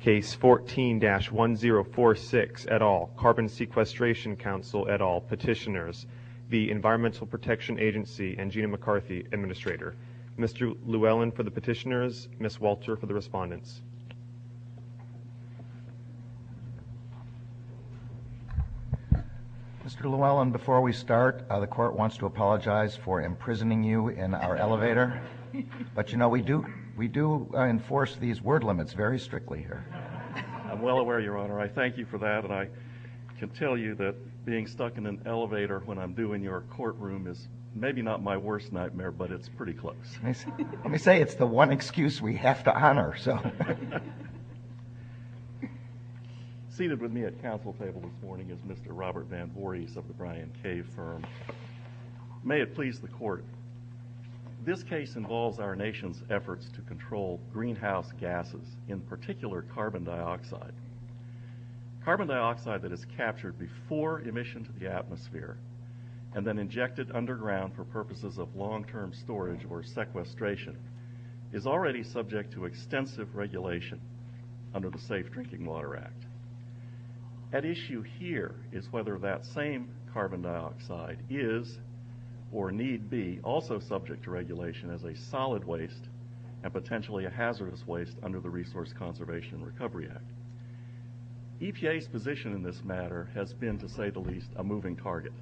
Case 14-1046 et al., Carbon Sequestration Council et al., Petitioners v. Environmental Protection Agency and Gina McCarthy, Administrator. Mr. Llewellyn for the Petitioners, Ms. Walter for the Respondents. Mr. Llewellyn, before we start, the Court wants to apologize for imprisoning you in our elevator. But, you know, we do enforce these word limits very strictly here. I'm well aware, Your Honor. I thank you for that. And I can tell you that being stuck in an elevator when I'm due in your courtroom is maybe not my worst nightmare, but it's pretty close. Let me say it's the one excuse we have to honor. Seated with me at council table this morning is Mr. Robert Van Voorhis of the Bryan Cave Firm. May it please the Court, this case involves our nation's efforts to control greenhouse gases, in particular carbon dioxide. Carbon dioxide that is captured before emission to the atmosphere and then injected underground for purposes of long-term storage or sequestration is already subject to extensive regulation under the Safe Drinking Water Act. At issue here is whether that same carbon dioxide is or need be also subject to regulation as a solid waste and potentially a hazardous waste under the Resource Conservation and Recovery Act. EPA's position in this matter has been, to say the least, a moving target.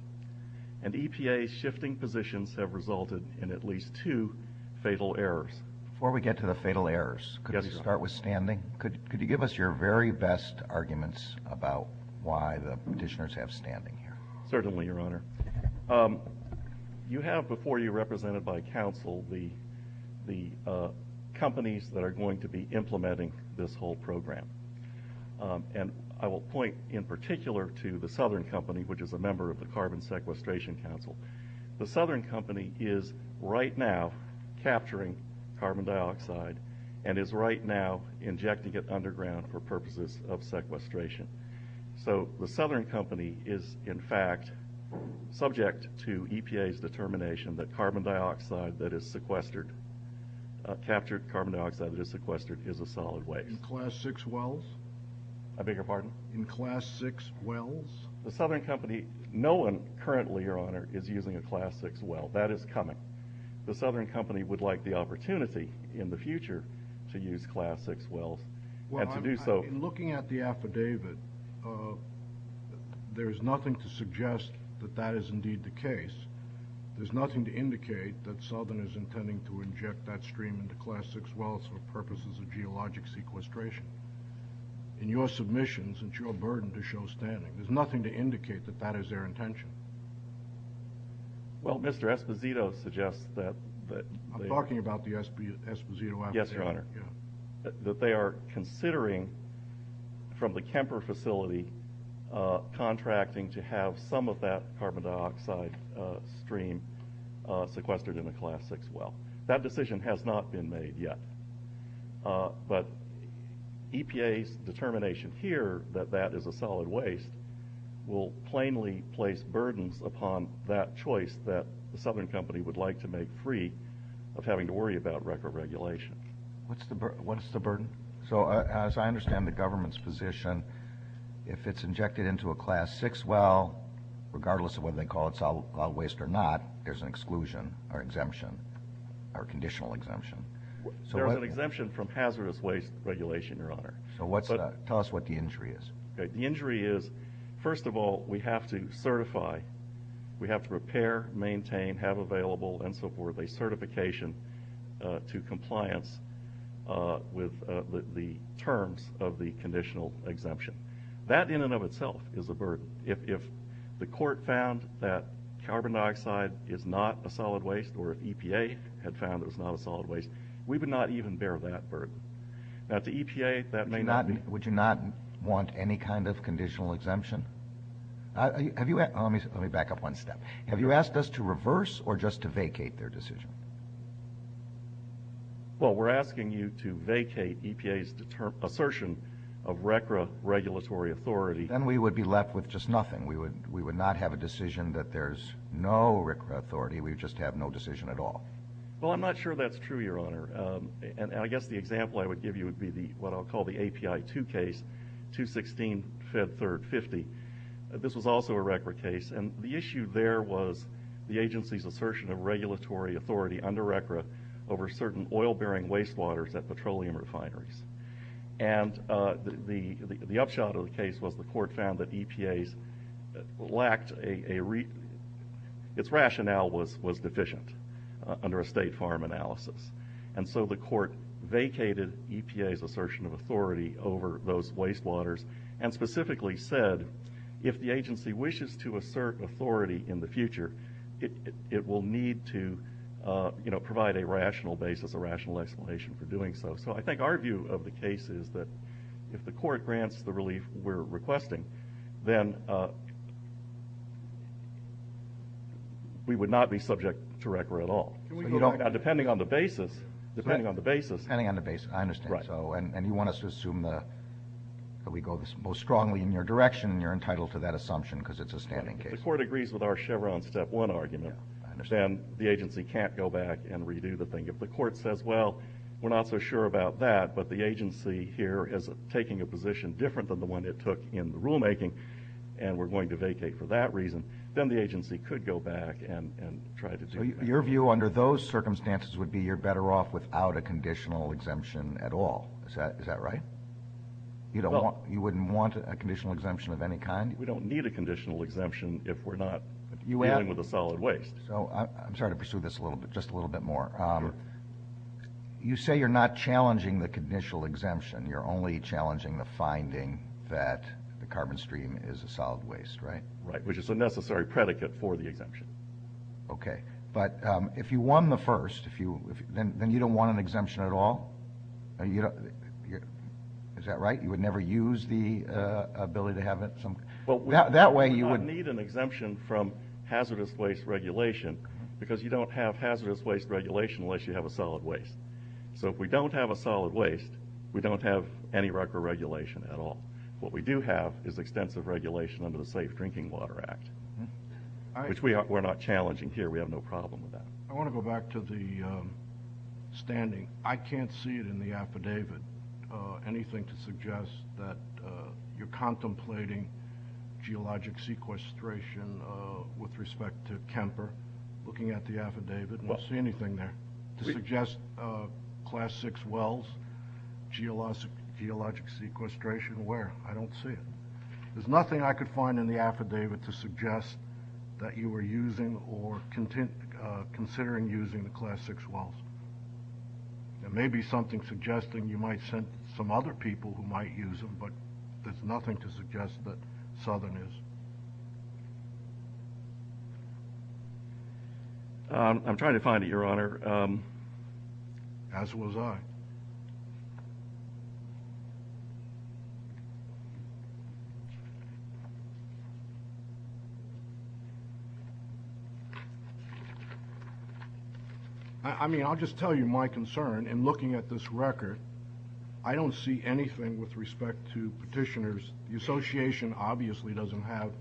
And EPA's shifting positions have resulted in at least two fatal errors. Before we get to the fatal errors, could you start with standing? Could you give us your very best arguments about why the petitioners have standing here? Certainly, Your Honor. You have before you, represented by council, the companies that are going to be implementing this whole program. I will point, in particular, to the Southern Company, which is a member of the Carbon Sequestration Council. The Southern Company is, right now, capturing carbon dioxide and is, right now, injecting it underground for purposes of sequestration. The Southern Company is, in fact, subject to EPA's determination that captured carbon dioxide that is sequestered is a solid waste. In Class 6 wells? I beg your pardon? In Class 6 wells? The Southern Company, no one currently, Your Honor, is using a Class 6 well. That is coming. The Southern Company would like the opportunity in the future to use Class 6 wells and to do so. Well, in looking at the affidavit, there is nothing to suggest that that is indeed the case. There is nothing to indicate that Southern is intending to inject that stream into Class 6 wells for purposes of geologic sequestration. In your submissions, it is your burden to show standing. There is nothing to indicate that that is their intention. Well, Mr. Esposito suggests that... I am talking about the Esposito affidavit. Yes, Your Honor. ...that they are considering, from the Kemper facility, contracting to have some of that carbon dioxide stream sequestered in a Class 6 well. That decision has not been made yet. But EPA's determination here that that is a solid waste will plainly place burdens upon that choice that the Southern Company would like to make free of having to worry about record regulation. What is the burden? As I understand the government's position, if it is injected into a Class 6 well, regardless of whether they call it solid waste or not, there is an exclusion or exemption or conditional exemption. There is an exemption from hazardous waste regulation, Your Honor. Tell us what the injury is. The injury is, first of all, we have to certify. We have to repair, maintain, have available, and so forth, a certification to compliance with the terms of the conditional exemption. That, in and of itself, is a burden. If the court found that carbon dioxide is not a solid waste or if EPA had found it was not a solid waste, we would not even bear that burden. Now, to EPA, that may not be... Would you not want any kind of conditional exemption? Let me back up one step. Have you asked us to reverse or just to vacate their decision? Well, we're asking you to vacate EPA's assertion of RCRA regulatory authority. Then we would be left with just nothing. We would not have a decision that there's no RCRA authority. We would just have no decision at all. Well, I'm not sure that's true, Your Honor. I guess the example I would give you would be what I'll call the API 2 case, 216 Fed Third 50. This was also a RCRA case. The issue there was the agency's assertion of regulatory authority under RCRA over certain oil-bearing wastewaters at petroleum refineries. The upshot of the case was the court found that EPA's rationale was deficient under a state farm analysis. The court vacated EPA's assertion of authority over those wastewaters and specifically said, if the agency wishes to assert authority in the future, it will need to provide a rational basis, a rational explanation for doing so. So I think our view of the case is that if the court grants the relief we're requesting, then we would not be subject to RCRA at all. Can we go back? Depending on the basis, depending on the basis. Depending on the basis, I understand. Right. And you want us to assume that we go most strongly in your direction, and you're entitled to that assumption because it's a standing case. If the court agrees with our Chevron step one argument, then the agency can't go back and redo the thing. If the court says, well, we're not so sure about that, but the agency here is taking a position different than the one it took in the rulemaking, and we're going to vacate for that reason, then the agency could go back and try to do that. So your view under those circumstances would be you're better off without a conditional exemption at all. Is that right? You wouldn't want a conditional exemption of any kind? We don't need a conditional exemption if we're not dealing with a solid waste. So I'm sorry to pursue this just a little bit more. You say you're not challenging the conditional exemption. You're only challenging the finding that the carbon stream is a solid waste, right? Right, which is a necessary predicate for the exemption. Okay. But if you won the first, then you don't want an exemption at all? Is that right? You would never use the ability to have it? We would not need an exemption from hazardous waste regulation because you don't have hazardous waste regulation unless you have a solid waste. So if we don't have a solid waste, we don't have any record regulation at all. What we do have is extensive regulation under the Safe Drinking Water Act, which we're not challenging here. We have no problem with that. I want to go back to the standing. I can't see it in the affidavit anything to suggest that you're contemplating geologic sequestration with respect to Kemper. Looking at the affidavit, I don't see anything there to suggest Class VI wells, geologic sequestration. Where? I don't see it. There's nothing I could find in the affidavit to suggest that you were using or considering using the Class VI wells. There may be something suggesting you might send some other people who might use them, but there's nothing to suggest that Southern is. I'm trying to find it, Your Honor. As was I. I mean, I'll just tell you my concern in looking at this record. I don't see anything with respect to petitioners. The association obviously doesn't have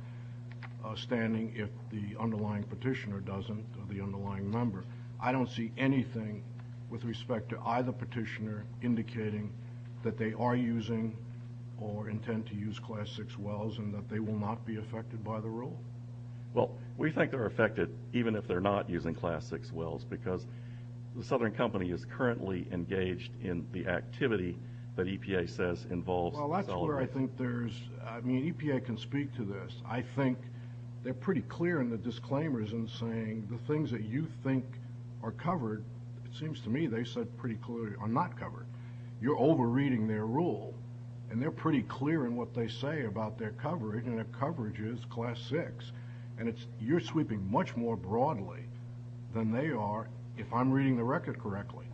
a standing if the underlying petitioner doesn't or the underlying member. I don't see anything with respect to either petitioner indicating that they are using or intend to use Class VI wells and that they will not be affected by the rule. Well, we think they're affected even if they're not using Class VI wells because the Southern Company is currently engaged in the activity that EPA says involves acceleration. Well, that's where I think there's – I mean, EPA can speak to this. I think they're pretty clear in the disclaimers in saying the things that you think are covered, it seems to me they said pretty clearly, are not covered. You're over-reading their rule, and they're pretty clear in what they say about their coverage, and their coverage is Class VI. And you're sweeping much more broadly than they are if I'm reading the record correctly.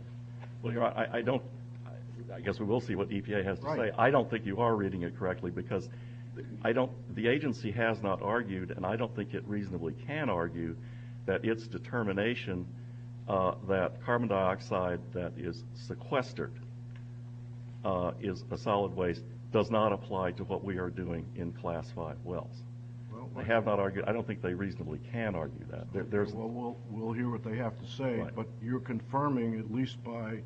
Well, Your Honor, I don't – I guess we will see what EPA has to say. I don't think you are reading it correctly because I don't – the agency has not argued, and I don't think it reasonably can argue, that its determination that carbon dioxide that is sequestered is a solid waste does not apply to what we are doing in Class V wells. They have not argued – I don't think they reasonably can argue that. Well, we'll hear what they have to say, but you're confirming, at least by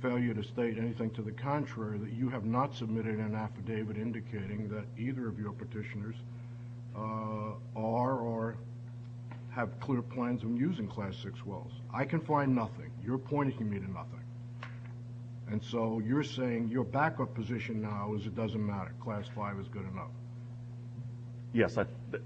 failure to state anything to the contrary, that you have not submitted an affidavit indicating that either of your petitioners are or have clear plans on using Class VI wells. I can find nothing. You're pointing me to nothing. And so you're saying your backup position now is it doesn't matter. Class V is good enough. Yes,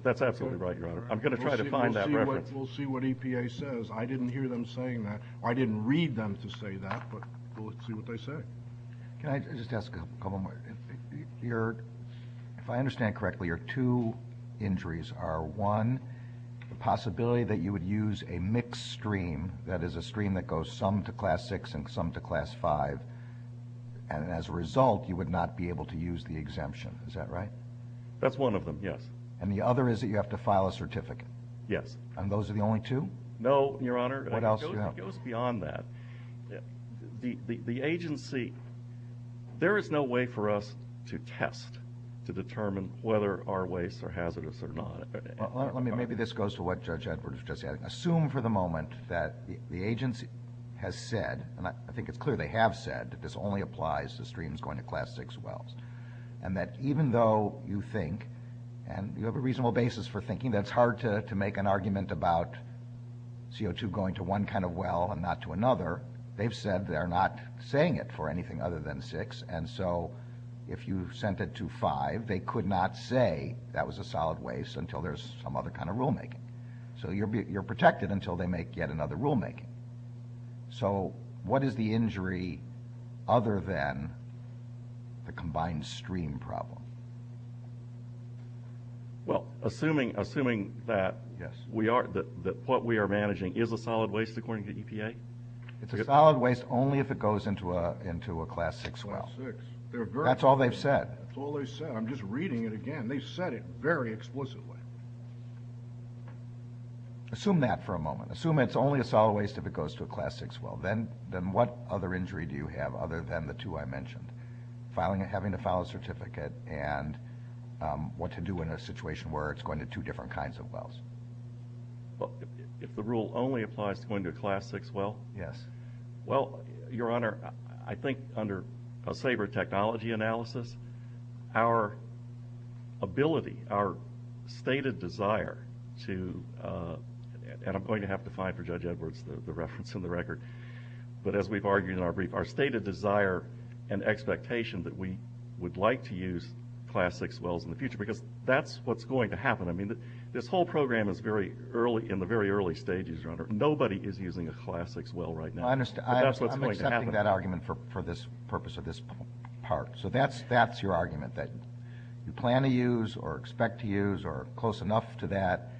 that's absolutely right, Your Honor. I'm going to try to find that reference. We'll see what EPA says. I didn't hear them saying that, or I didn't read them to say that, but we'll see what they say. Can I just ask a couple more? If I understand correctly, your two injuries are, one, the possibility that you would use a mixed stream, that is a stream that goes some to Class VI and some to Class V, and as a result you would not be able to use the exemption. Is that right? That's one of them, yes. And the other is that you have to file a certificate. Yes. And those are the only two? No, Your Honor. What else do you have? It goes beyond that. The agency, there is no way for us to test to determine whether our waste are hazardous or not. Maybe this goes to what Judge Edwards just said. Assume for the moment that the agency has said, and I think it's clear they have said, that this only applies to streams going to Class VI wells, and that even though you think, and you have a reasonable basis for thinking, they've said they're not saying it for anything other than VI, and so if you sent it to V, they could not say that was a solid waste until there's some other kind of rulemaking. So you're protected until they make yet another rulemaking. So what is the injury other than the combined stream problem? Well, assuming that what we are managing is a solid waste, is this according to the EPA? It's a solid waste only if it goes into a Class VI well. Class VI. That's all they've said. That's all they've said. I'm just reading it again. They've said it very explicitly. Assume that for a moment. Assume it's only a solid waste if it goes to a Class VI well. Then what other injury do you have other than the two I mentioned, having to file a certificate and what to do in a situation where it's going to two different kinds of wells? If the rule only applies to going to a Class VI well? Yes. Well, Your Honor, I think under a saber technology analysis, our ability, our stated desire to, and I'm going to have to find for Judge Edwards the reference in the record, but as we've argued in our brief, our stated desire and expectation that we would like to use Class VI wells in the future because that's what's going to happen. I mean, this whole program is in the very early stages, Your Honor. Nobody is using a Class VI well right now. I understand. But that's what's going to happen. I'm accepting that argument for the purpose of this part. So that's your argument, that you plan to use or expect to use or close enough to that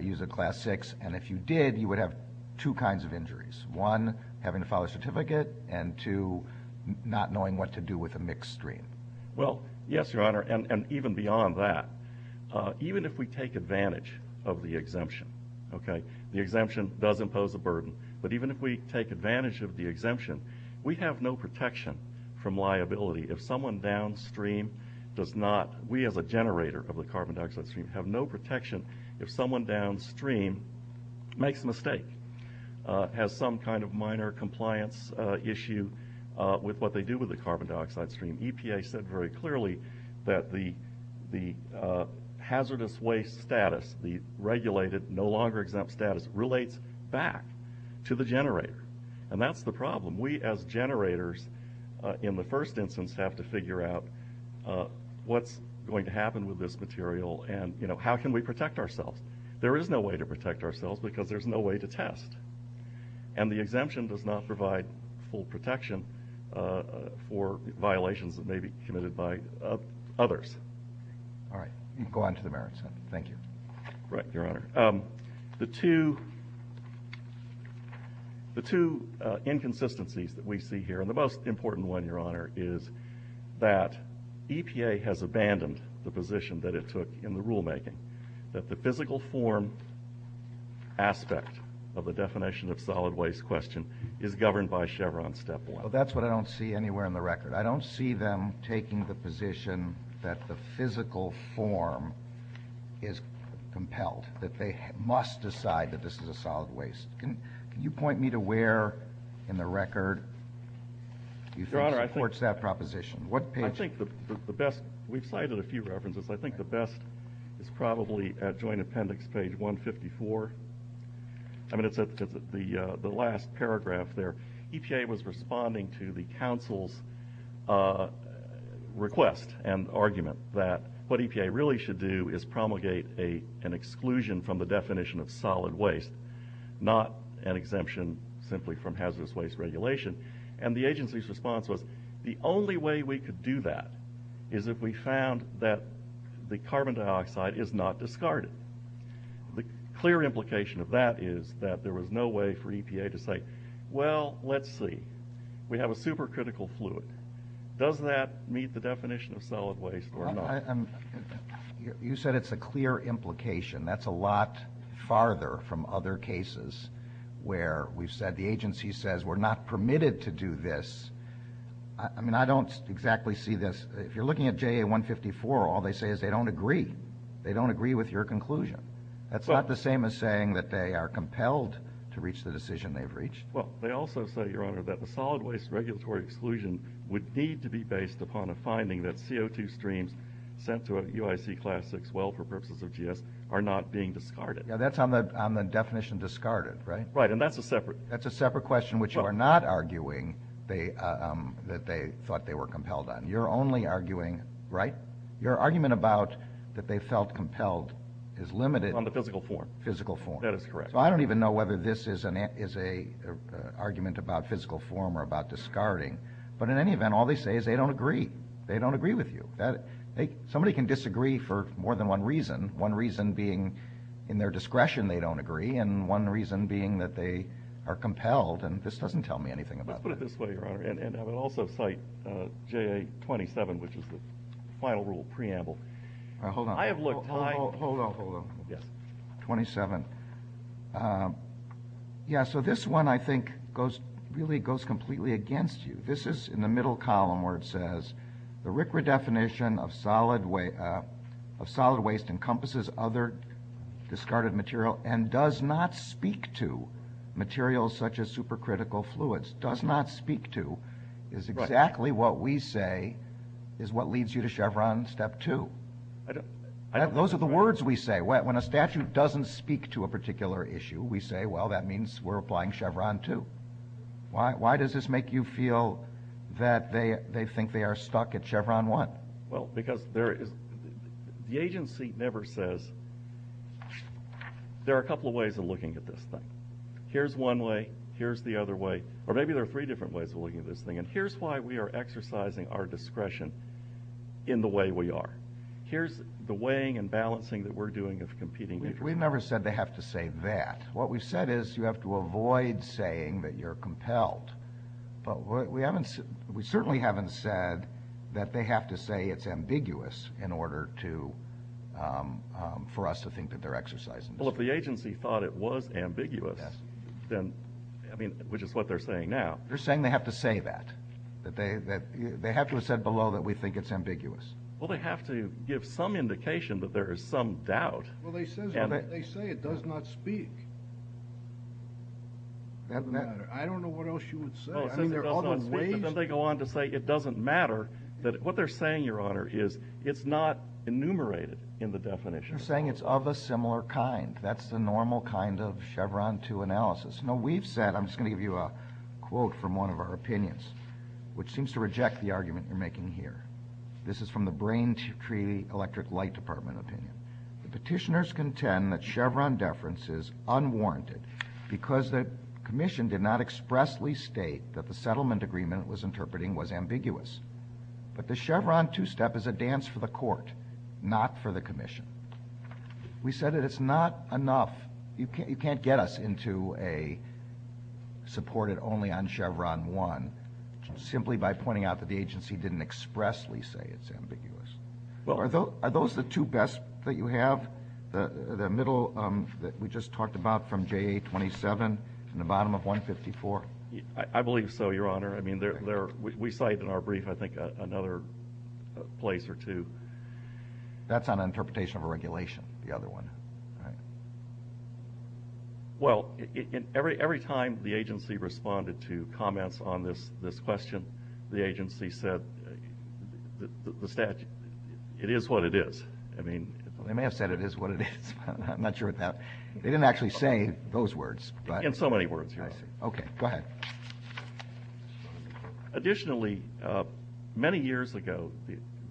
use a Class VI, and if you did you would have two kinds of injuries, one having to file a certificate and two not knowing what to do with a mixed stream. Well, yes, Your Honor, and even beyond that. Even if we take advantage of the exemption, okay, the exemption does impose a burden, but even if we take advantage of the exemption, we have no protection from liability. If someone downstream does not, we as a generator of the carbon dioxide stream, have no protection if someone downstream makes a mistake, has some kind of minor compliance issue with what they do with the carbon dioxide stream. The EPA said very clearly that the hazardous waste status, the regulated, no longer exempt status, relates back to the generator, and that's the problem. We as generators, in the first instance, have to figure out what's going to happen with this material and how can we protect ourselves. There is no way to protect ourselves because there's no way to test, and the exemption does not provide full protection for violations that may be committed by others. All right. You can go on to the merits, then. Thank you. Right, Your Honor. The two inconsistencies that we see here, and the most important one, Your Honor, is that EPA has abandoned the position that it took in the rulemaking, that the physical form aspect of the definition of solid waste question is governed by Chevron Step 1. Well, that's what I don't see anywhere in the record. I don't see them taking the position that the physical form is compelled, that they must decide that this is a solid waste. Can you point me to where in the record you think supports that proposition? I think the best we've cited a few references. I think the best is probably at Joint Appendix, page 154. I mean, it's at the last paragraph there. EPA was responding to the council's request and argument that what EPA really should do is promulgate an exclusion from the definition of solid waste, not an exemption simply from hazardous waste regulation. And the agency's response was the only way we could do that is if we found that the carbon dioxide is not discarded. The clear implication of that is that there was no way for EPA to say, well, let's see, we have a supercritical fluid. Does that meet the definition of solid waste or not? You said it's a clear implication. That's a lot farther from other cases where we've said the agency says we're not permitted to do this. I mean, I don't exactly see this. If you're looking at JA 154, all they say is they don't agree. They don't agree with your conclusion. That's not the same as saying that they are compelled to reach the decision they've reached. Well, they also say, Your Honor, that the solid waste regulatory exclusion would need to be based upon a finding that CO2 streams sent to a UIC class 6 well for purposes of GS are not being discarded. That's on the definition discarded, right? Right, and that's a separate. That's a separate question, which you are not arguing that they thought they were compelled on. You're only arguing, right, your argument about that they felt compelled is limited. On the physical form. Physical form. That is correct. So I don't even know whether this is an argument about physical form or about discarding. But in any event, all they say is they don't agree. They don't agree with you. Somebody can disagree for more than one reason, one reason being in their discretion they don't agree and one reason being that they are compelled, and this doesn't tell me anything about it. Let's put it this way, Your Honor, and I would also cite JA27, which is the final rule, preamble. Hold on. I have looked. Hold on, hold on. Yes. 27. Yeah, so this one I think really goes completely against you. This is in the middle column where it says, the RCRA definition of solid waste encompasses other discarded material and does not speak to materials such as supercritical fluids, does not speak to is exactly what we say is what leads you to Chevron Step 2. Those are the words we say. When a statute doesn't speak to a particular issue, we say, well, that means we're applying Chevron 2. Why does this make you feel that they think they are stuck at Chevron 1? Well, because the agency never says, there are a couple of ways of looking at this thing. Here's one way, here's the other way, or maybe there are three different ways of looking at this thing, and here's why we are exercising our discretion in the way we are. Here's the weighing and balancing that we're doing of competing interests. We've never said they have to say that. What we've said is you have to avoid saying that you're compelled. But we certainly haven't said that they have to say it's ambiguous in order for us to think that they're exercising discretion. Well, if the agency thought it was ambiguous, which is what they're saying now. You're saying they have to say that. They have to have said below that we think it's ambiguous. Well, they have to give some indication that there is some doubt. Well, they say it does not speak. I don't know what else you would say. Then they go on to say it doesn't matter. What they're saying, Your Honor, is it's not enumerated in the definition. They're saying it's of a similar kind. That's the normal kind of Chevron II analysis. Now, we've said, I'm just going to give you a quote from one of our opinions, which seems to reject the argument you're making here. This is from the Brain Tree Electric Light Department opinion. Petitioners contend that Chevron deference is unwarranted because the commission did not expressly state that the settlement agreement it was interpreting was ambiguous. But the Chevron II step is a dance for the court, not for the commission. We said that it's not enough. You can't get us into a supported only on Chevron I simply by pointing out that the agency didn't expressly say it's ambiguous. Are those the two best that you have? The middle that we just talked about from JA-27 and the bottom of 154? I believe so, Your Honor. I mean, we cite in our brief, I think, another place or two. That's an interpretation of a regulation, the other one. Well, every time the agency responded to comments on this question, the agency said it is what it is. They may have said it is what it is. I'm not sure about that. They didn't actually say those words. In so many words, Your Honor. Okay, go ahead. Additionally, many years ago,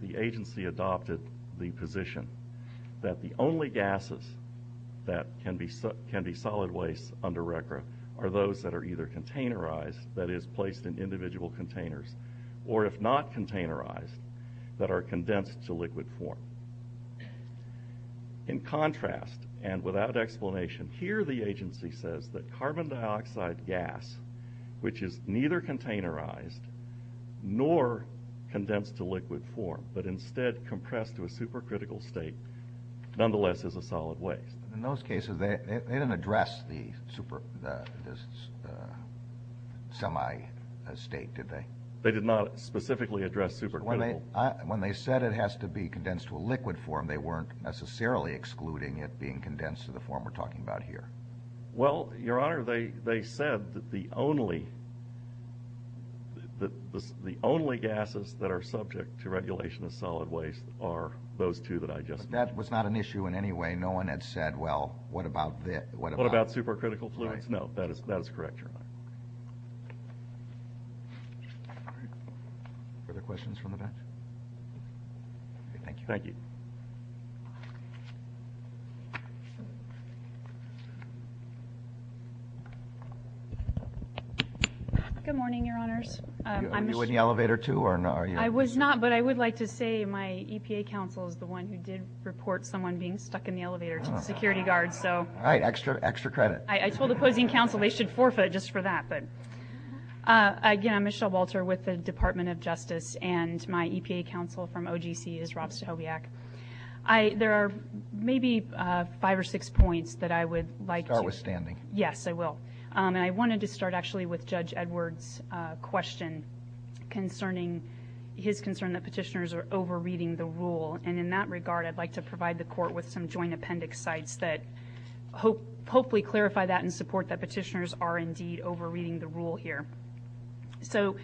the agency adopted the position that the only gases that can be solid waste under RCRA are those that are either containerized, that is placed in individual containers, or if not containerized, that are condensed to liquid form. In contrast, and without explanation, here the agency says that carbon dioxide gas, which is neither containerized nor condensed to liquid form, but instead compressed to a supercritical state, nonetheless is a solid waste. In those cases, they didn't address the semi-state, did they? They did not specifically address supercritical. When they said it has to be condensed to a liquid form, they weren't necessarily excluding it being condensed to the form we're talking about here. Well, Your Honor, they said that the only gases that are subject to regulation as solid waste are those two that I just mentioned. But that was not an issue in any way. No one had said, well, what about this? What about supercritical fluids? No, that is correct, Your Honor. Further questions from the bench? Thank you. Thank you. Good morning, Your Honors. Are you in the elevator, too? I was not, but I would like to say my EPA counsel is the one who did report someone being stuck in the elevator to the security guard. All right, extra credit. I told the opposing counsel they should forfeit just for that. Again, I'm Michelle Walter with the Department of Justice, and my EPA counsel from OGC is Rob Stachowiak. There are maybe five or six points that I would like to- Start with standing. Yes, I will. And I wanted to start actually with Judge Edwards' question concerning his concern that petitioners are over-reading the rule. And in that regard, I'd like to provide the Court with some joint appendix sites that hopefully clarify that and support that petitioners are indeed over-reading the rule here. So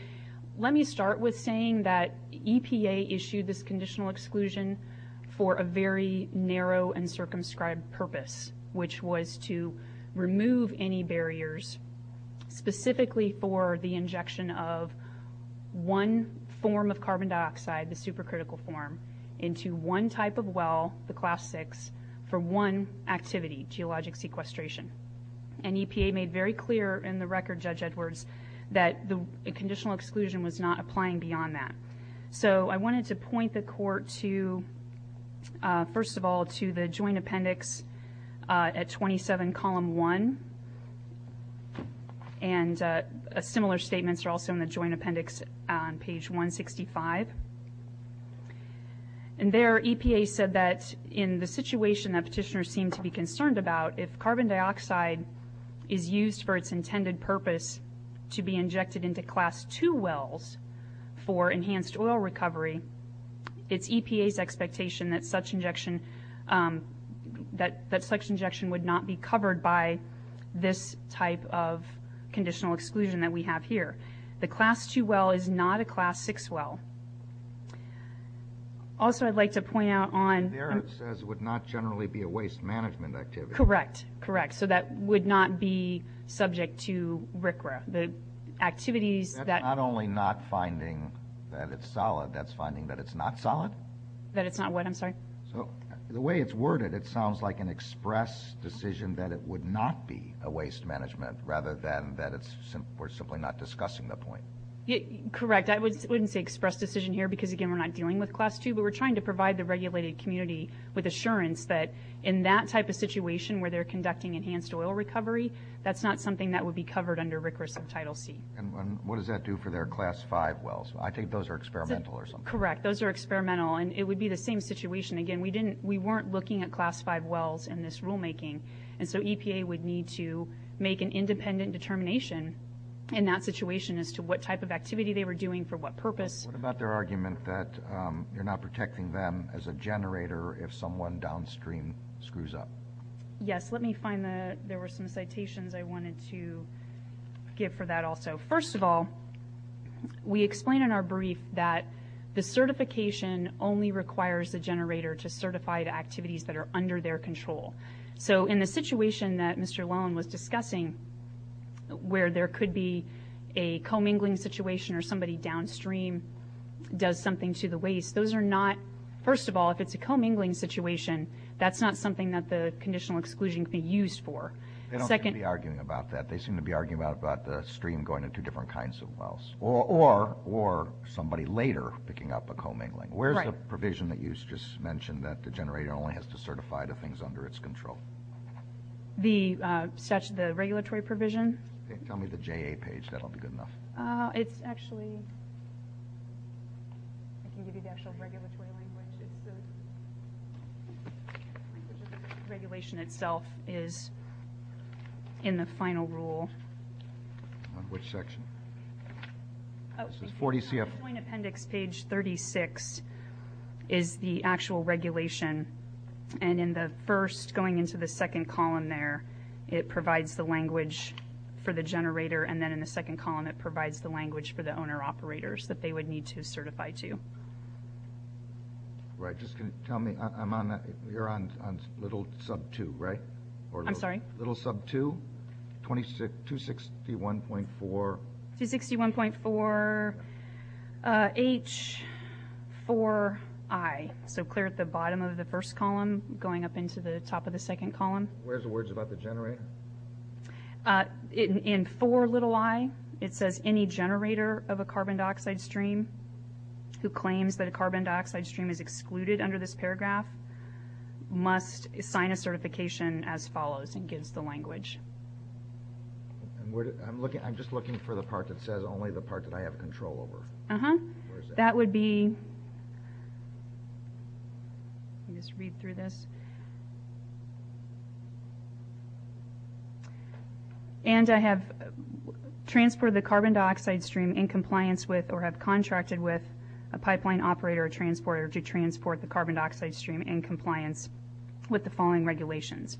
let me start with saying that EPA issued this conditional exclusion for a very narrow and circumscribed purpose, which was to remove any barriers specifically for the injection of one form of carbon dioxide, the supercritical form, into one type of well, the class six, for one activity, geologic sequestration. And EPA made very clear in the record, Judge Edwards, that the conditional exclusion was not applying beyond that. So I wanted to point the Court to, first of all, to the joint appendix at 27, column 1. And similar statements are also in the joint appendix on page 165. And there EPA said that in the situation that petitioners seem to be concerned about, if carbon dioxide is used for its intended purpose to be injected into class two wells for enhanced oil recovery, it's EPA's expectation that such injection would not be covered by this type of conditional exclusion that we have here. The class two well is not a class six well. Also, I'd like to point out on... There it says would not generally be a waste management activity. Correct, correct. So that would not be subject to RCRA. The activities that... That it's not what, I'm sorry? The way it's worded, it sounds like an express decision that it would not be a waste management, rather than that we're simply not discussing the point. Correct. I wouldn't say express decision here because, again, we're not dealing with class two, but we're trying to provide the regulated community with assurance that in that type of situation where they're conducting enhanced oil recovery, that's not something that would be covered under RCRA subtitle C. And what does that do for their class five wells? I think those are experimental or something. Correct, those are experimental, and it would be the same situation. Again, we weren't looking at class five wells in this rulemaking, and so EPA would need to make an independent determination in that situation as to what type of activity they were doing for what purpose. What about their argument that you're not protecting them as a generator if someone downstream screws up? Yes, let me find the... There were some citations I wanted to give for that also. First of all, we explain in our brief that the certification only requires the generator to certify the activities that are under their control. So in the situation that Mr. Lowen was discussing where there could be a commingling situation or somebody downstream does something to the waste, those are not, first of all, if it's a commingling situation, that's not something that the conditional exclusion could be used for. They don't seem to be arguing about that. They seem to be arguing about the stream going to two different kinds of wells or somebody later picking up a commingling. Where's the provision that you just mentioned that the generator only has to certify the things under its control? The regulatory provision? Tell me the JA page. That'll be good enough. It's actually... I can give you the actual regulatory language. It's the... regulation itself is in the final rule. On which section? The Joint Appendix, page 36, is the actual regulation. And in the first, going into the second column there, it provides the language for the generator, and then in the second column it provides the language for the owner-operators that they would need to certify to. Right. Just tell me... You're on little sub 2, right? I'm sorry? Little sub 2, 261.4... 261.4H4I. So clear at the bottom of the first column, going up into the top of the second column. Where's the words about the generator? In 4i, it says, any generator of a carbon dioxide stream who claims that a carbon dioxide stream is excluded under this paragraph must sign a certification as follows, and gives the language. I'm just looking for the part that says only the part that I have control over. Uh-huh. That would be... Let me just read through this. And I have transported the carbon dioxide stream in compliance with or have contracted with a pipeline operator or transporter to transport the carbon dioxide stream in compliance with the following regulations.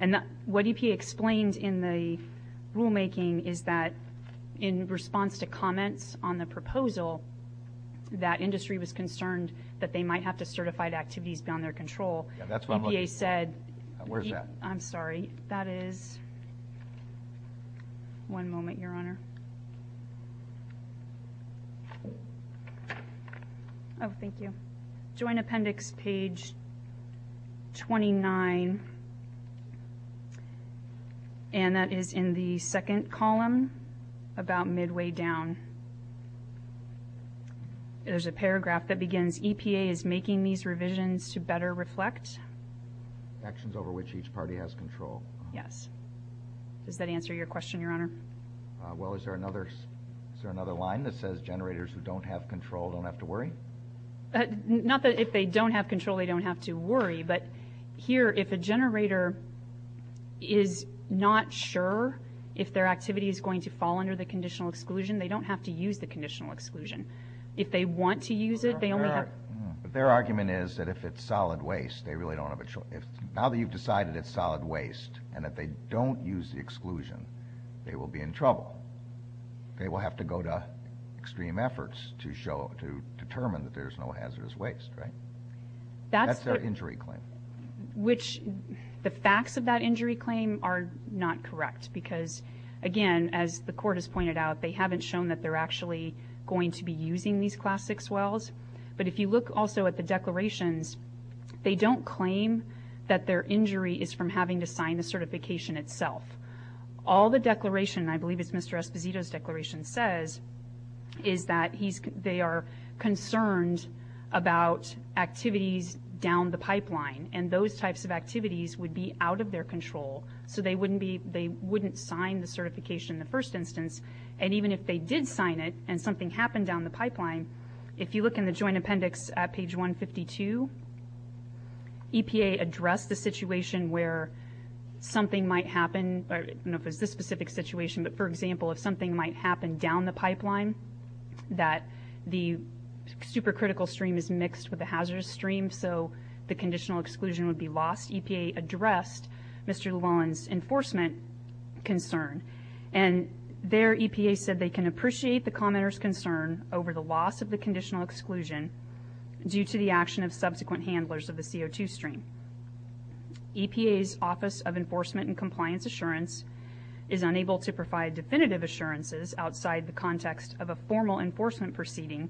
And what EPA explained in the rulemaking is that in response to comments on the proposal, that industry was concerned that they might have to certify to activities beyond their control. EPA said... I'm sorry. That is... One moment, Your Honor. Oh, thank you. Joint Appendix, page 29. And that is in the second column, about midway down. There's a paragraph that begins, EPA is making these revisions to better reflect... Actions over which each party has control. Yes. Does that answer your question, Your Honor? Well, is there another line that says generators who don't have control don't have to worry? Not that if they don't have control they don't have to worry, but here, if a generator is not sure if their activity is going to fall under the conditional exclusion, they don't have to use the conditional exclusion. If they want to use it, they only have... But their argument is that if it's solid waste, now that you've decided it's solid waste, and if they don't use the exclusion, they will be in trouble. They will have to go to extreme efforts to determine that there's no hazardous waste, right? That's their injury claim. Which the facts of that injury claim are not correct, because, again, as the Court has pointed out, they haven't shown that they're actually going to be using these Class VI wells. But if you look also at the declarations, they don't claim that their injury is from having to sign the certification itself. All the declaration, and I believe it's Mr. Esposito's declaration, says is that they are concerned about activities down the pipeline, and those types of activities would be out of their control, so they wouldn't sign the certification in the first instance, and even if they did sign it and something happened down the pipeline, if you look in the Joint Appendix at page 152, EPA addressed the situation where something might happen... I don't know if it was this specific situation, but, for example, if something might happen down the pipeline that the supercritical stream is mixed with the hazardous stream, so the conditional exclusion would be lost, EPA addressed Mr. Llewellyn's enforcement concern. And there EPA said they can appreciate the commenter's concern over the loss of the conditional exclusion due to the action of subsequent handlers of the CO2 stream. EPA's Office of Enforcement and Compliance Assurance is unable to provide definitive assurances outside the context of a formal enforcement proceeding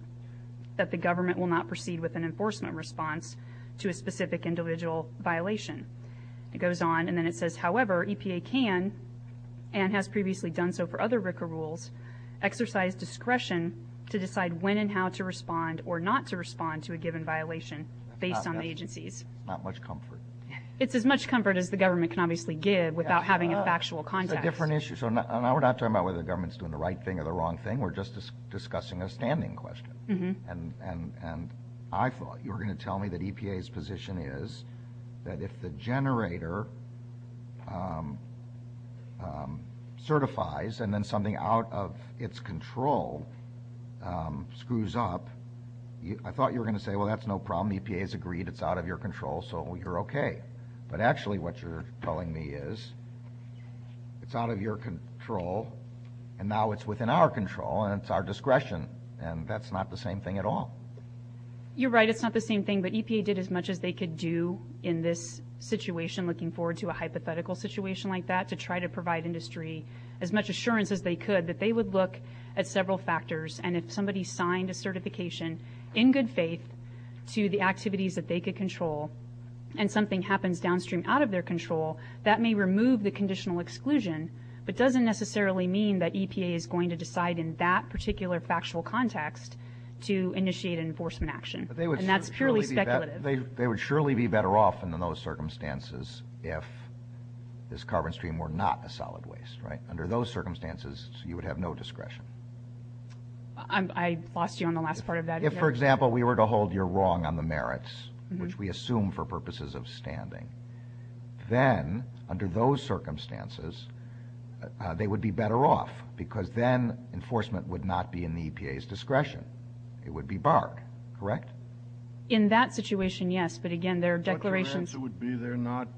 that the government will not proceed with an enforcement response to a specific individual violation. It goes on, and then it says, however, EPA can, and has previously done so for other RCRA rules, exercise discretion to decide when and how to respond or not to respond to a given violation based on the agency's... Not much comfort. It's as much comfort as the government can obviously give without having a factual context. It's a different issue, so now we're not talking about whether the government's doing the right thing or the wrong thing, we're just discussing a standing question. And I thought you were going to tell me that EPA's position is that if the generator certifies and then something out of its control screws up, I thought you were going to say, well, that's no problem. EPA has agreed it's out of your control, so you're okay. But actually what you're telling me is it's out of your control, and now it's within our control and it's our discretion, and that's not the solution. It's not the same thing at all. You're right, it's not the same thing, but EPA did as much as they could do in this situation, looking forward to a hypothetical situation like that, to try to provide industry as much assurance as they could that they would look at several factors, and if somebody signed a certification in good faith to the activities that they could control and something happens downstream out of their control, that may remove the conditional exclusion, but doesn't necessarily mean that EPA is going to decide in that particular factual context to initiate an enforcement action, and that's purely speculative. They would surely be better off in those circumstances if this carbon stream were not a solid waste, right? Under those circumstances, you would have no discretion. I lost you on the last part of that. If, for example, we were to hold you wrong on the merits, which we assume for purposes of standing, then under those circumstances, they would be better off because then enforcement would not be in the EPA's discretion. It would be barred, correct? In that situation, yes, but again, their declarations... But the answer would be they're not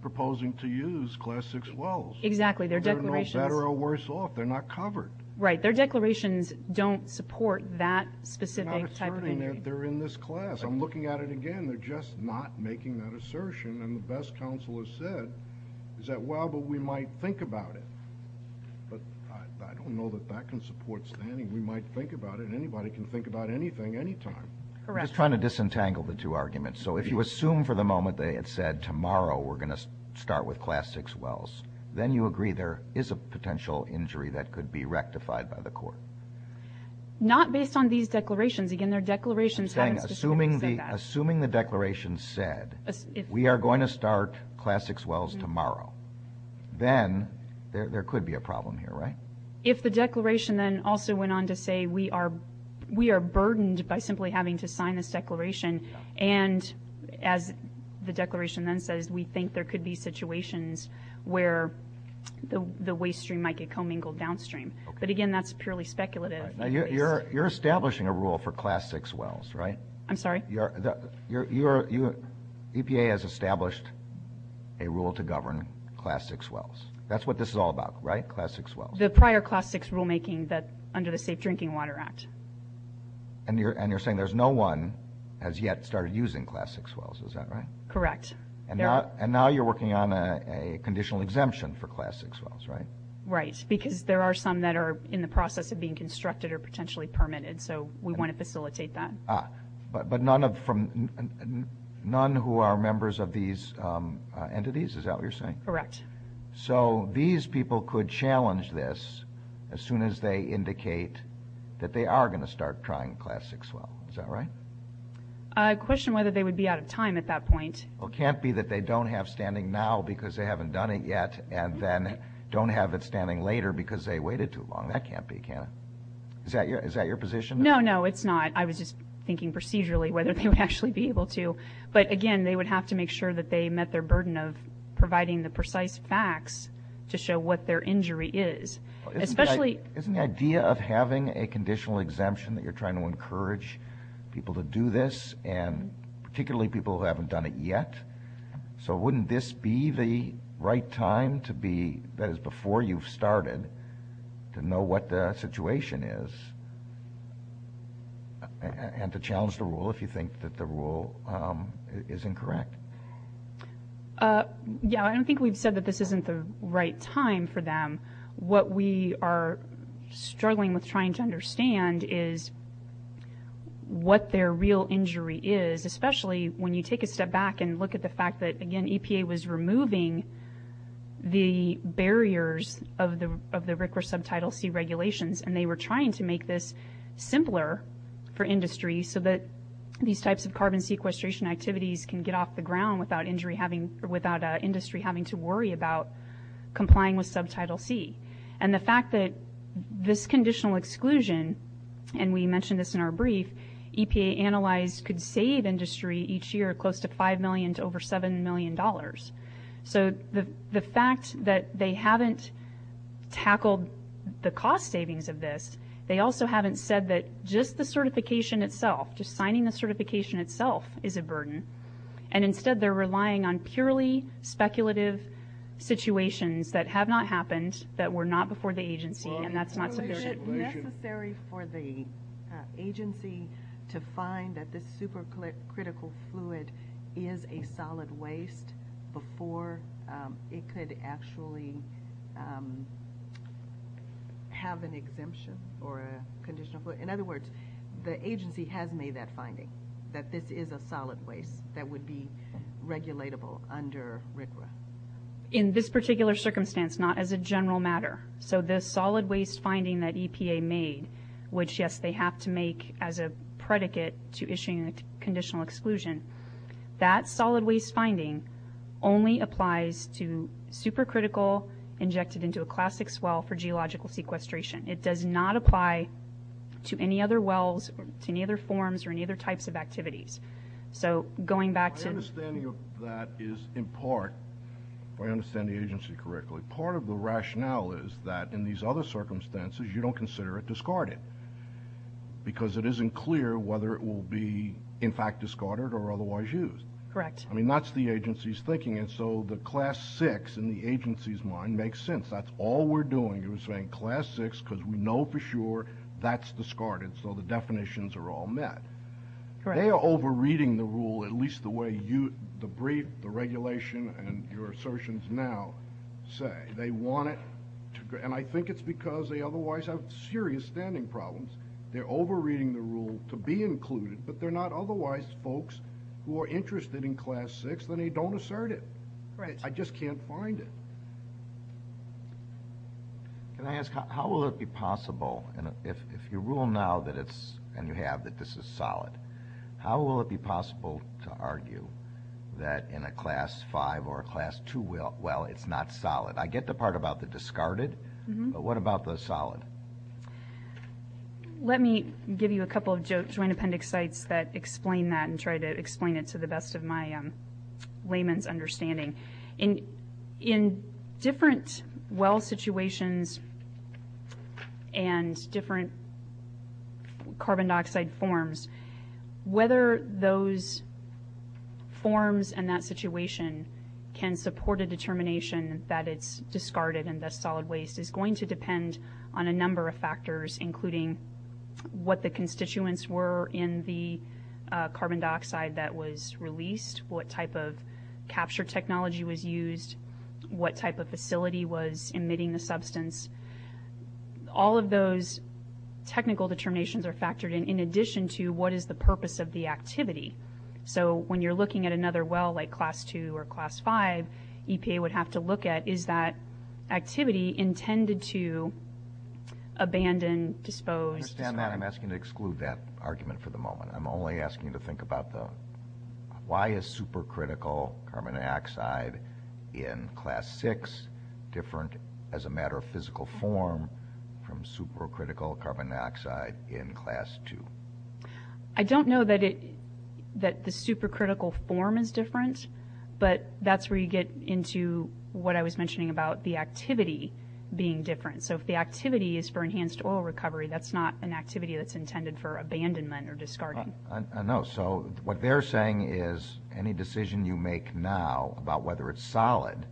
proposing to use Class 6 wells. Exactly, their declarations... They're no better or worse off. They're not covered. Right, their declarations don't support that specific type of injury. They're in this class. I'm looking at it again. They're just not making that assertion, and the best counsel has said is that, well, but we might think about it. But I don't know that that can support standing. We might think about it, and anybody can think about anything, anytime. Correct. I'm just trying to disentangle the two arguments. So if you assume for the moment they had said, tomorrow we're going to start with Class 6 wells, then you agree there is a potential injury that could be rectified by the court? Not based on these declarations. Again, their declarations haven't specifically said that. Assuming the declaration said, we are going to start Class 6 wells tomorrow, then there could be a problem here, right? If the declaration then also went on to say, we are burdened by simply having to sign this declaration, and as the declaration then says, we think there could be situations where the waste stream might get commingled downstream. But again, that's purely speculative. You're establishing a rule for Class 6 wells, right? I'm sorry? EPA has established a rule to govern Class 6 wells. That's what this is all about, right, Class 6 wells? The prior Class 6 rulemaking under the Safe Drinking Water Act. And you're saying there's no one has yet started using Class 6 wells, is that right? Correct. And now you're working on a conditional exemption for Class 6 wells, right? Right, because there are some that are in the process of being constructed or potentially permitted, so we want to facilitate that. But none who are members of these entities, is that what you're saying? Correct. So these people could challenge this as soon as they indicate that they are going to start trying Class 6 wells. Is that right? I question whether they would be out of time at that point. Well, it can't be that they don't have standing now because they haven't done it yet, and then don't have it standing later because they waited too long. That can't be, can it? Is that your position? No, no, it's not. I was just thinking procedurally whether they would actually be able to. But again, they would have to make sure that they met their burden of providing the precise facts to show what their injury is. Isn't the idea of having a conditional exemption that you're trying to encourage people to do this, and particularly people who haven't done it yet? So wouldn't this be the right time to be, that is before you've started, to know what the situation is? And to challenge the rule if you think that the rule is incorrect? Yeah, I don't think we've said that this isn't the right time for them. What we are struggling with trying to understand is what their real injury is, especially when you take a step back and look at the fact that, again, EPA was removing the barriers of the RCRA Subtitle C regulations, and they were trying to make this simpler for industry so that these types of carbon sequestration activities can get off the ground without industry having to worry about complying with Subtitle C. And the fact that this conditional exclusion, and we mentioned this in our brief, EPA analyzed could save industry each year close to $5 million to over $7 million. So the fact that they haven't tackled the cost savings of this, they also haven't said that just the certification itself, just signing the certification itself is a burden, and instead they're relying on purely speculative situations that have not happened, that were not before the agency, and that's not sufficient. Is it necessary for the agency to find that this supercritical fluid is a solid waste before it could actually have an exemption or a conditional fluid? In other words, the agency has made that finding, that this is a solid waste that would be regulatable under RCRA. In this particular circumstance, not as a general matter. So the solid waste finding that EPA made, which, yes, they have to make as a predicate to issuing a conditional exclusion, that solid waste finding only applies to supercritical, injected into a classics well for geological sequestration. It does not apply to any other wells, to any other forms, or any other types of activities. So going back to the- My understanding of that is in part, if I understand the agency correctly, part of the rationale is that in these other circumstances you don't consider it discarded because it isn't clear whether it will be, in fact, discarded or otherwise used. Correct. I mean, that's the agency's thinking, and so the class six in the agency's mind makes sense. That's all we're doing is saying class six, because we know for sure that's discarded, so the definitions are all met. They are over-reading the rule, at least the way the brief, the regulation, and your assertions now say. They want it, and I think it's because they otherwise have serious standing problems. They're over-reading the rule to be included, but they're not otherwise folks who are interested in class six, then they don't assert it. Right. I just can't find it. Can I ask, how will it be possible, if you rule now that it's, and you have, that this is solid, how will it be possible to argue that in a class five or a class two well it's not solid? I get the part about the discarded, but what about the solid? Let me give you a couple of joint appendix sites that explain that and try to explain it to the best of my layman's understanding. In different well situations and different carbon dioxide forms, whether those forms and that situation can support a determination that it's discarded and thus solid waste is going to depend on a number of factors, including what the constituents were in the carbon dioxide that was released, what type of capture technology was used, what type of facility was emitting the substance. All of those technical determinations are factored in, in addition to what is the purpose of the activity. So when you're looking at another well like class two or class five, EPA would have to look at is that activity intended to abandon, dispose, discard? I understand that. I'm asking to exclude that argument for the moment. I'm only asking to think about why is supercritical carbon dioxide in class six different as a matter of physical form from supercritical carbon dioxide in class two? I don't know that the supercritical form is different, but that's where you get into what I was mentioning about the activity being different. So if the activity is for enhanced oil recovery, that's not an activity that's intended for abandonment or discarding. I know. So what they're saying is any decision you make now about whether it's solid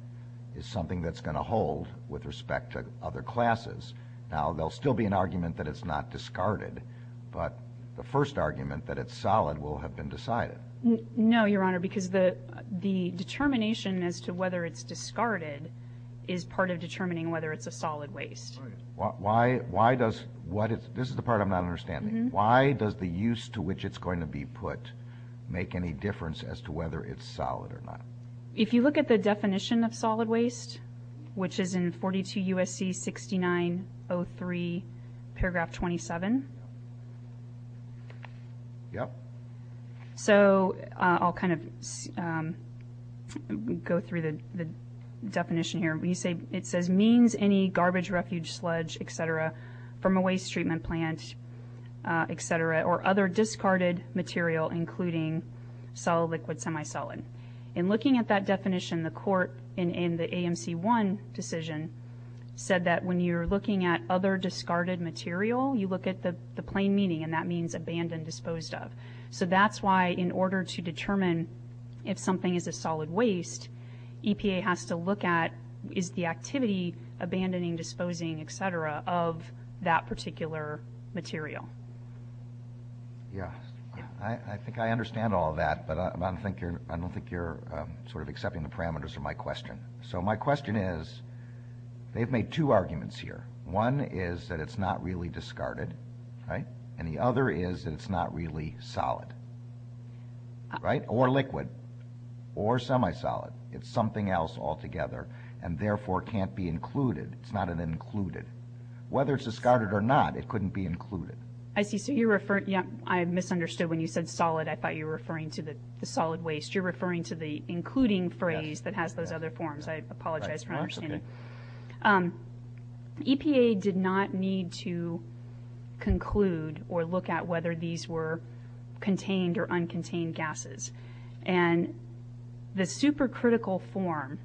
is something that's going to hold with respect to other classes. Now, there will still be an argument that it's not discarded, but the first argument that it's solid will have been decided. No, Your Honor, because the determination as to whether it's discarded is part of determining whether it's a solid waste. This is the part I'm not understanding. Why does the use to which it's going to be put make any difference as to whether it's solid or not? If you look at the definition of solid waste, which is in 42 U.S.C. 6903, paragraph 27. So I'll kind of go through the definition here. It says means any garbage, refuge, sludge, et cetera, from a waste treatment plant, et cetera, or other discarded material including solid, liquid, semi-solid. In looking at that definition, the court in the AMC 1 decision said that when you're looking at other discarded material, you look at the plain meaning, and that means abandoned, disposed of. So that's why in order to determine if something is a solid waste, EPA has to look at is the activity, abandoning, disposing, et cetera, of that particular material. Yeah. I think I understand all that, but I don't think you're sort of accepting the parameters of my question. So my question is they've made two arguments here. One is that it's not really discarded, right, and the other is that it's not really solid, right, or liquid, or semi-solid. It's something else altogether and, therefore, can't be included. It's not an included. Whether it's discarded or not, it couldn't be included. I see. So you're referring to ñ I misunderstood when you said solid. I thought you were referring to the solid waste. You're referring to the including phrase that has those other forms. I apologize for my understanding. EPA did not need to conclude or look at whether these were contained or uncontained gases. And the supercritical form,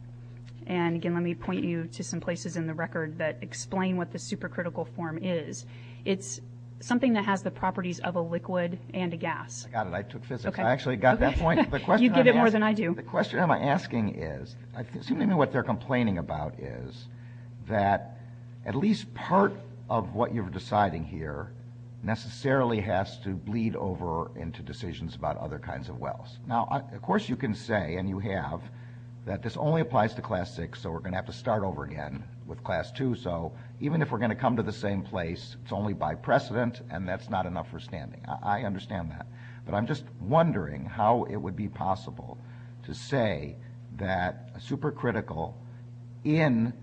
and, again, let me point you to some places in the record that explain what the supercritical form is. It's something that has the properties of a liquid and a gas. I got it. I took physics. I actually got that point. You get it more than I do. See, the question I'm asking is, seemingly what they're complaining about is that at least part of what you're deciding here necessarily has to bleed over into decisions about other kinds of wells. Now, of course you can say, and you have, that this only applies to Class VI, so we're going to have to start over again with Class II. So even if we're going to come to the same place, it's only by precedent, and that's not enough for standing. I understand that. But I'm just wondering how it would be possible to say that a supercritical in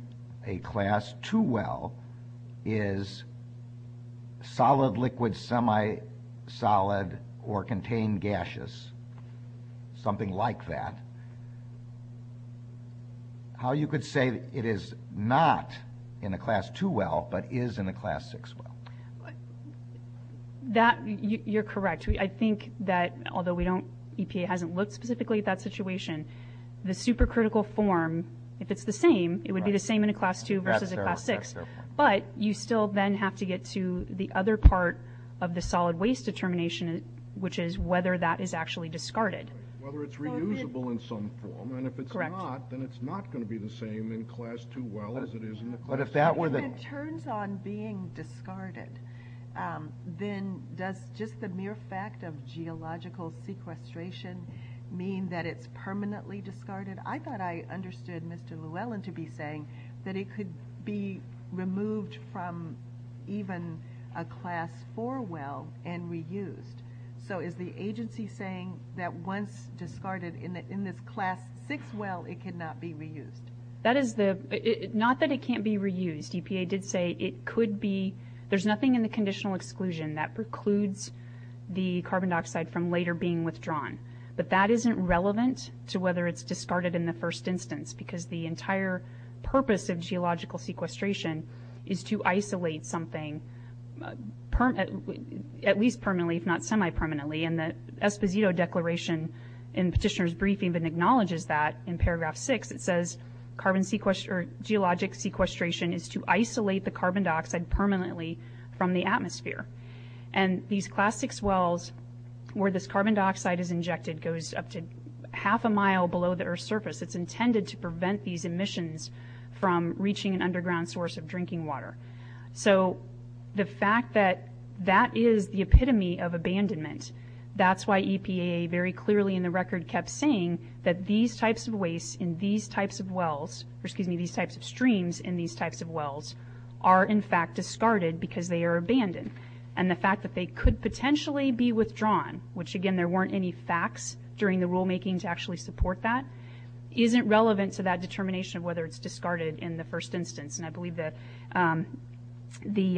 a Class II well is solid, liquid, semi-solid, or contained gaseous, something like that. How you could say it is not in a Class II well but is in a Class VI well? You're correct. I think that although EPA hasn't looked specifically at that situation, the supercritical form, if it's the same, it would be the same in a Class II versus a Class VI. But you still then have to get to the other part of the solid waste determination, which is whether that is actually discarded. Whether it's reusable in some form. Correct. And if it's not, then it's not going to be the same in a Class II well as it is in a Class VI. If it turns on being discarded, then does just the mere fact of geological sequestration mean that it's permanently discarded? I thought I understood Mr. Llewellyn to be saying that it could be removed from even a Class IV well and reused. So is the agency saying that once discarded in this Class VI well, it cannot be reused? Not that it can't be reused. EPA did say it could be. There's nothing in the conditional exclusion that precludes the carbon dioxide from later being withdrawn. But that isn't relevant to whether it's discarded in the first instance because the entire purpose of geological sequestration is to isolate something, at least permanently if not semi-permanently. And the Esposito Declaration in Petitioner's briefing even acknowledges that in paragraph six. It says geologic sequestration is to isolate the carbon dioxide permanently from the atmosphere. And these Class VI wells, where this carbon dioxide is injected, goes up to half a mile below the Earth's surface. It's intended to prevent these emissions from reaching an underground source of drinking water. So the fact that that is the epitome of abandonment, that's why EPA very clearly in the record kept saying that these types of wastes in these types of wells, excuse me, these types of streams in these types of wells, are in fact discarded because they are abandoned. And the fact that they could potentially be withdrawn, which again there weren't any facts during the rulemaking to actually support that, isn't relevant to that determination of whether it's discarded in the first instance. And I believe that the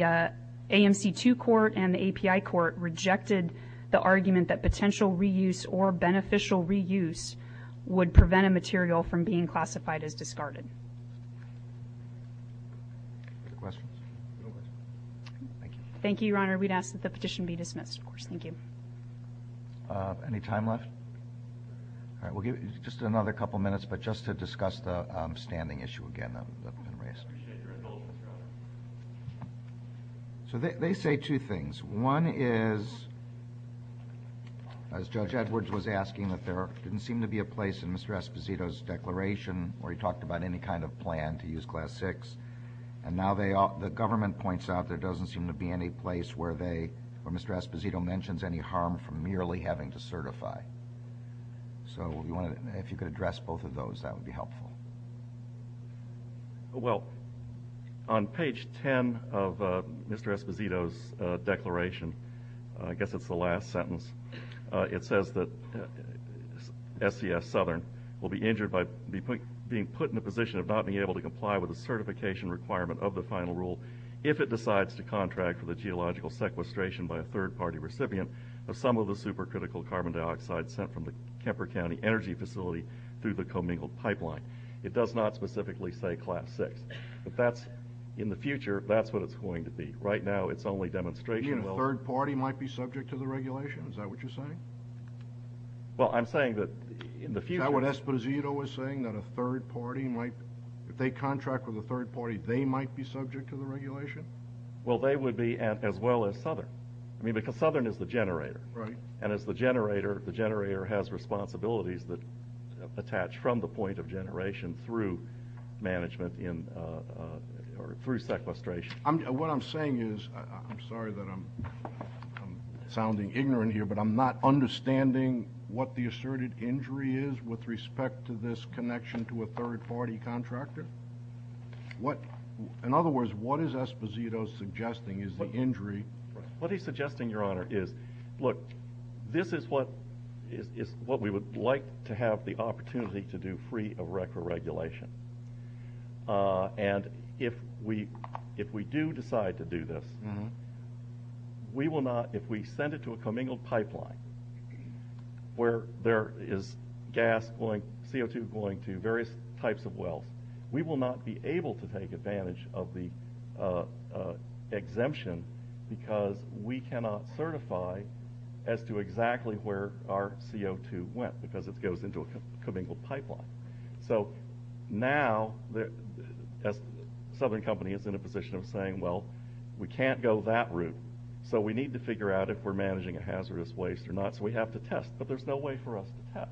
AMC 2 court and the API court rejected the argument that potential reuse or beneficial reuse would prevent a material from being classified as discarded. Any questions? No questions. Thank you. Thank you, Your Honor. We'd ask that the petition be dismissed, of course. Thank you. Any time left? All right. but just to discuss the standing issue again that's been raised. I appreciate your indulgence, Your Honor. So they say two things. One is, as Judge Edwards was asking, that there didn't seem to be a place in Mr. Esposito's declaration where he talked about any kind of plan to use Class VI, and now the government points out there doesn't seem to be any place where they, where Mr. Esposito mentions any harm from merely having to certify. So if you could address both of those, that would be helpful. Well, on page 10 of Mr. Esposito's declaration, I guess it's the last sentence, it says that SES Southern will be injured by being put in a position of not being able to comply with the certification requirement of the final rule if it decides to contract for the geological sequestration by a third-party recipient of some of the supercritical carbon dioxide sent from the Kemper County Energy Facility through the commingled pipeline. It does not specifically say Class VI. But that's, in the future, that's what it's going to be. Right now it's only demonstration. You mean a third-party might be subject to the regulation? Is that what you're saying? Well, I'm saying that in the future... Is that what Esposito was saying, that a third-party might, if they contract with a third-party, they might be subject to the regulation? Well, they would be as well as Southern. I mean, because Southern is the generator. Right. And as the generator, the generator has responsibilities that attach from the point of generation through management or through sequestration. What I'm saying is, I'm sorry that I'm sounding ignorant here, but I'm not understanding what the asserted injury is with respect to this connection to a third-party contractor. In other words, what is Esposito suggesting is the injury? What he's suggesting, Your Honor, is, look, this is what we would like to have the opportunity to do free of record regulation. And if we do decide to do this, we will not, if we send it to a commingled pipeline where there is gas going, CO2 going to various types of wells, we will not be able to take advantage of the exemption because we cannot certify as to exactly where our CO2 went because it goes into a commingled pipeline. So now, as Southern Company is in a position of saying, well, we can't go that route, so we need to figure out if we're managing a hazardous waste or not, so we have to test, but there's no way for us to test.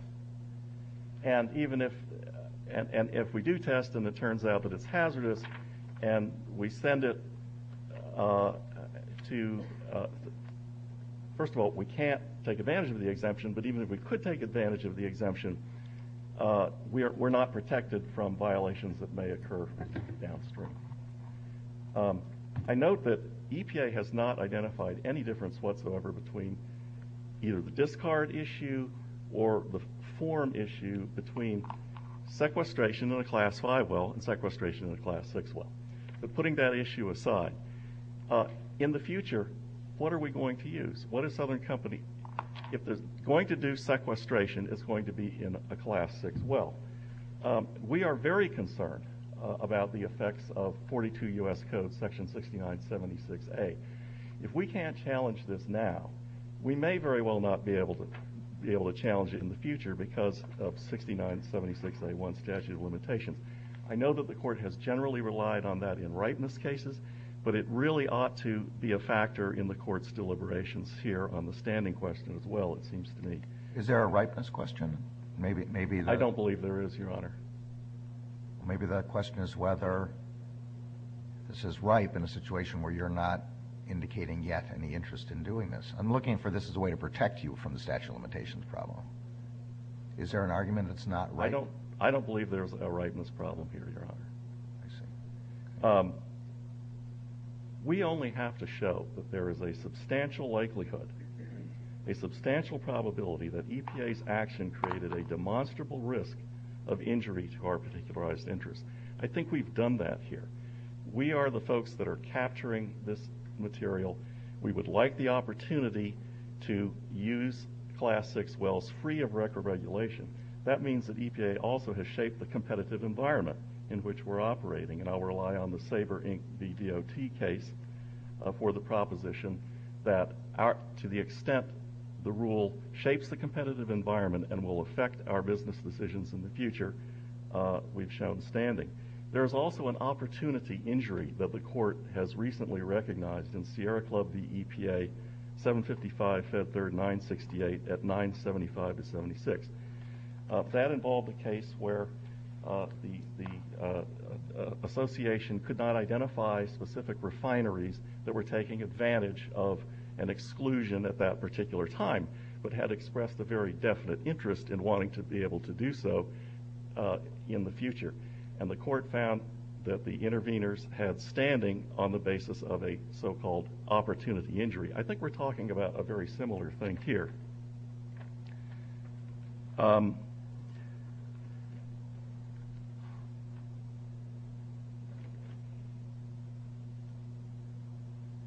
And if we do test and it turns out that it's hazardous and we send it to, first of all, we can't take advantage of the exemption, but even if we could take advantage of the exemption, we're not protected from violations that may occur downstream. I note that EPA has not identified any difference whatsoever between either the discard issue or the form issue between sequestration in a Class 5 well and sequestration in a Class 6 well. But putting that issue aside, in the future, what are we going to use? What is Southern Company, if they're going to do sequestration, is going to be in a Class 6 well? We are very concerned about the effects of 42 U.S. Code section 6976A. If we can't challenge this now, we may very well not be able to challenge it in the future because of 6976A1 statute of limitations. I know that the Court has generally relied on that in ripeness cases, but it really ought to be a factor in the Court's deliberations here on the standing question as well, it seems to me. Is there a ripeness question? I don't believe there is, Your Honor. Maybe the question is whether this is ripe in a situation where you're not indicating yet any interest in doing this. I'm looking for this as a way to protect you from the statute of limitations problem. Is there an argument it's not ripe? I don't believe there's a ripeness problem here, Your Honor. I see. We only have to show that there is a substantial likelihood, a substantial probability, that EPA's action created a demonstrable risk of injury to our particularized interest. I think we've done that here. We are the folks that are capturing this material. We would like the opportunity to use Class 6 wells free of record regulation. That means that EPA also has shaped the competitive environment in which we're operating, and I'll rely on the Sabre, Inc. v. DOT case for the proposition that to the extent the rule shapes the competitive environment and will affect our business decisions in the future, we've shown standing. There is also an opportunity injury that the Court has recently recognized in Sierra Club v. EPA, 755 Fed Third 968 at 975-76. That involved a case where the association could not identify specific refineries that were taking advantage of an exclusion at that particular time but had expressed a very definite interest in wanting to be able to do so in the future, and the Court found that the interveners had standing on the basis of a so-called opportunity injury. I think we're talking about a very similar thing here. May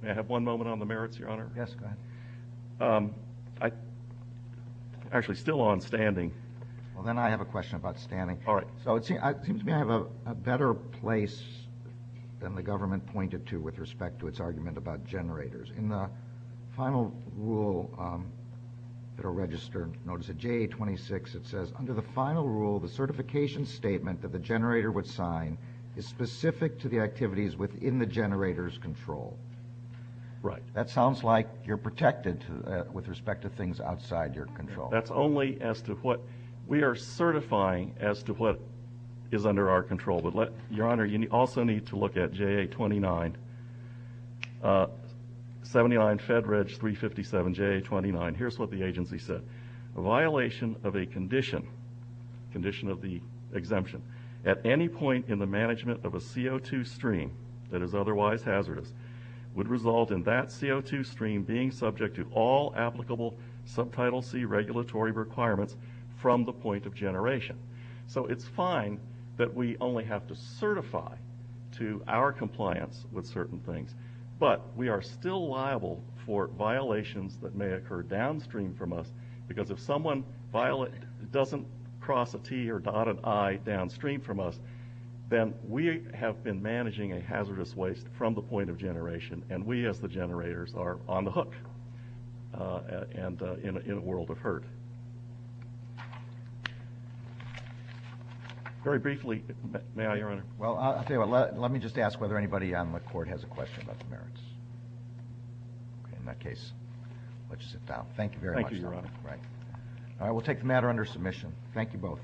I have one moment on the merits, Your Honor? Yes, go ahead. Actually, still on standing. Well, then I have a question about standing. All right. So it seems to me I have a better place than the government pointed to with respect to its argument about generators. In the final rule that will register notice of JA-26, it says under the final rule, the certification statement that the generator would sign is specific to the activities within the generator's control. Right. That sounds like you're protected with respect to things outside your control. That's only as to what we are certifying as to what is under our control. Your Honor, you also need to look at JA-29, 79 Fed Reg 357, JA-29. Here's what the agency said. A violation of a condition, condition of the exemption, at any point in the management of a CO2 stream that is otherwise hazardous would result in that CO2 stream being subject to all applicable Subtitle C regulatory requirements from the point of generation. So it's fine that we only have to certify to our compliance with certain things, but we are still liable for violations that may occur downstream from us because if someone doesn't cross a T or dot an I downstream from us, then we have been managing a hazardous waste from the point of generation, and we as the generators are on the hook in a world of hurt. Very briefly, may I, Your Honor? Well, let me just ask whether anybody on the Court has a question about the merits. In that case, I'll let you sit down. Thank you very much. Thank you, Your Honor. All right. We'll take the matter under submission. Thank you both. Thank you. Thank you.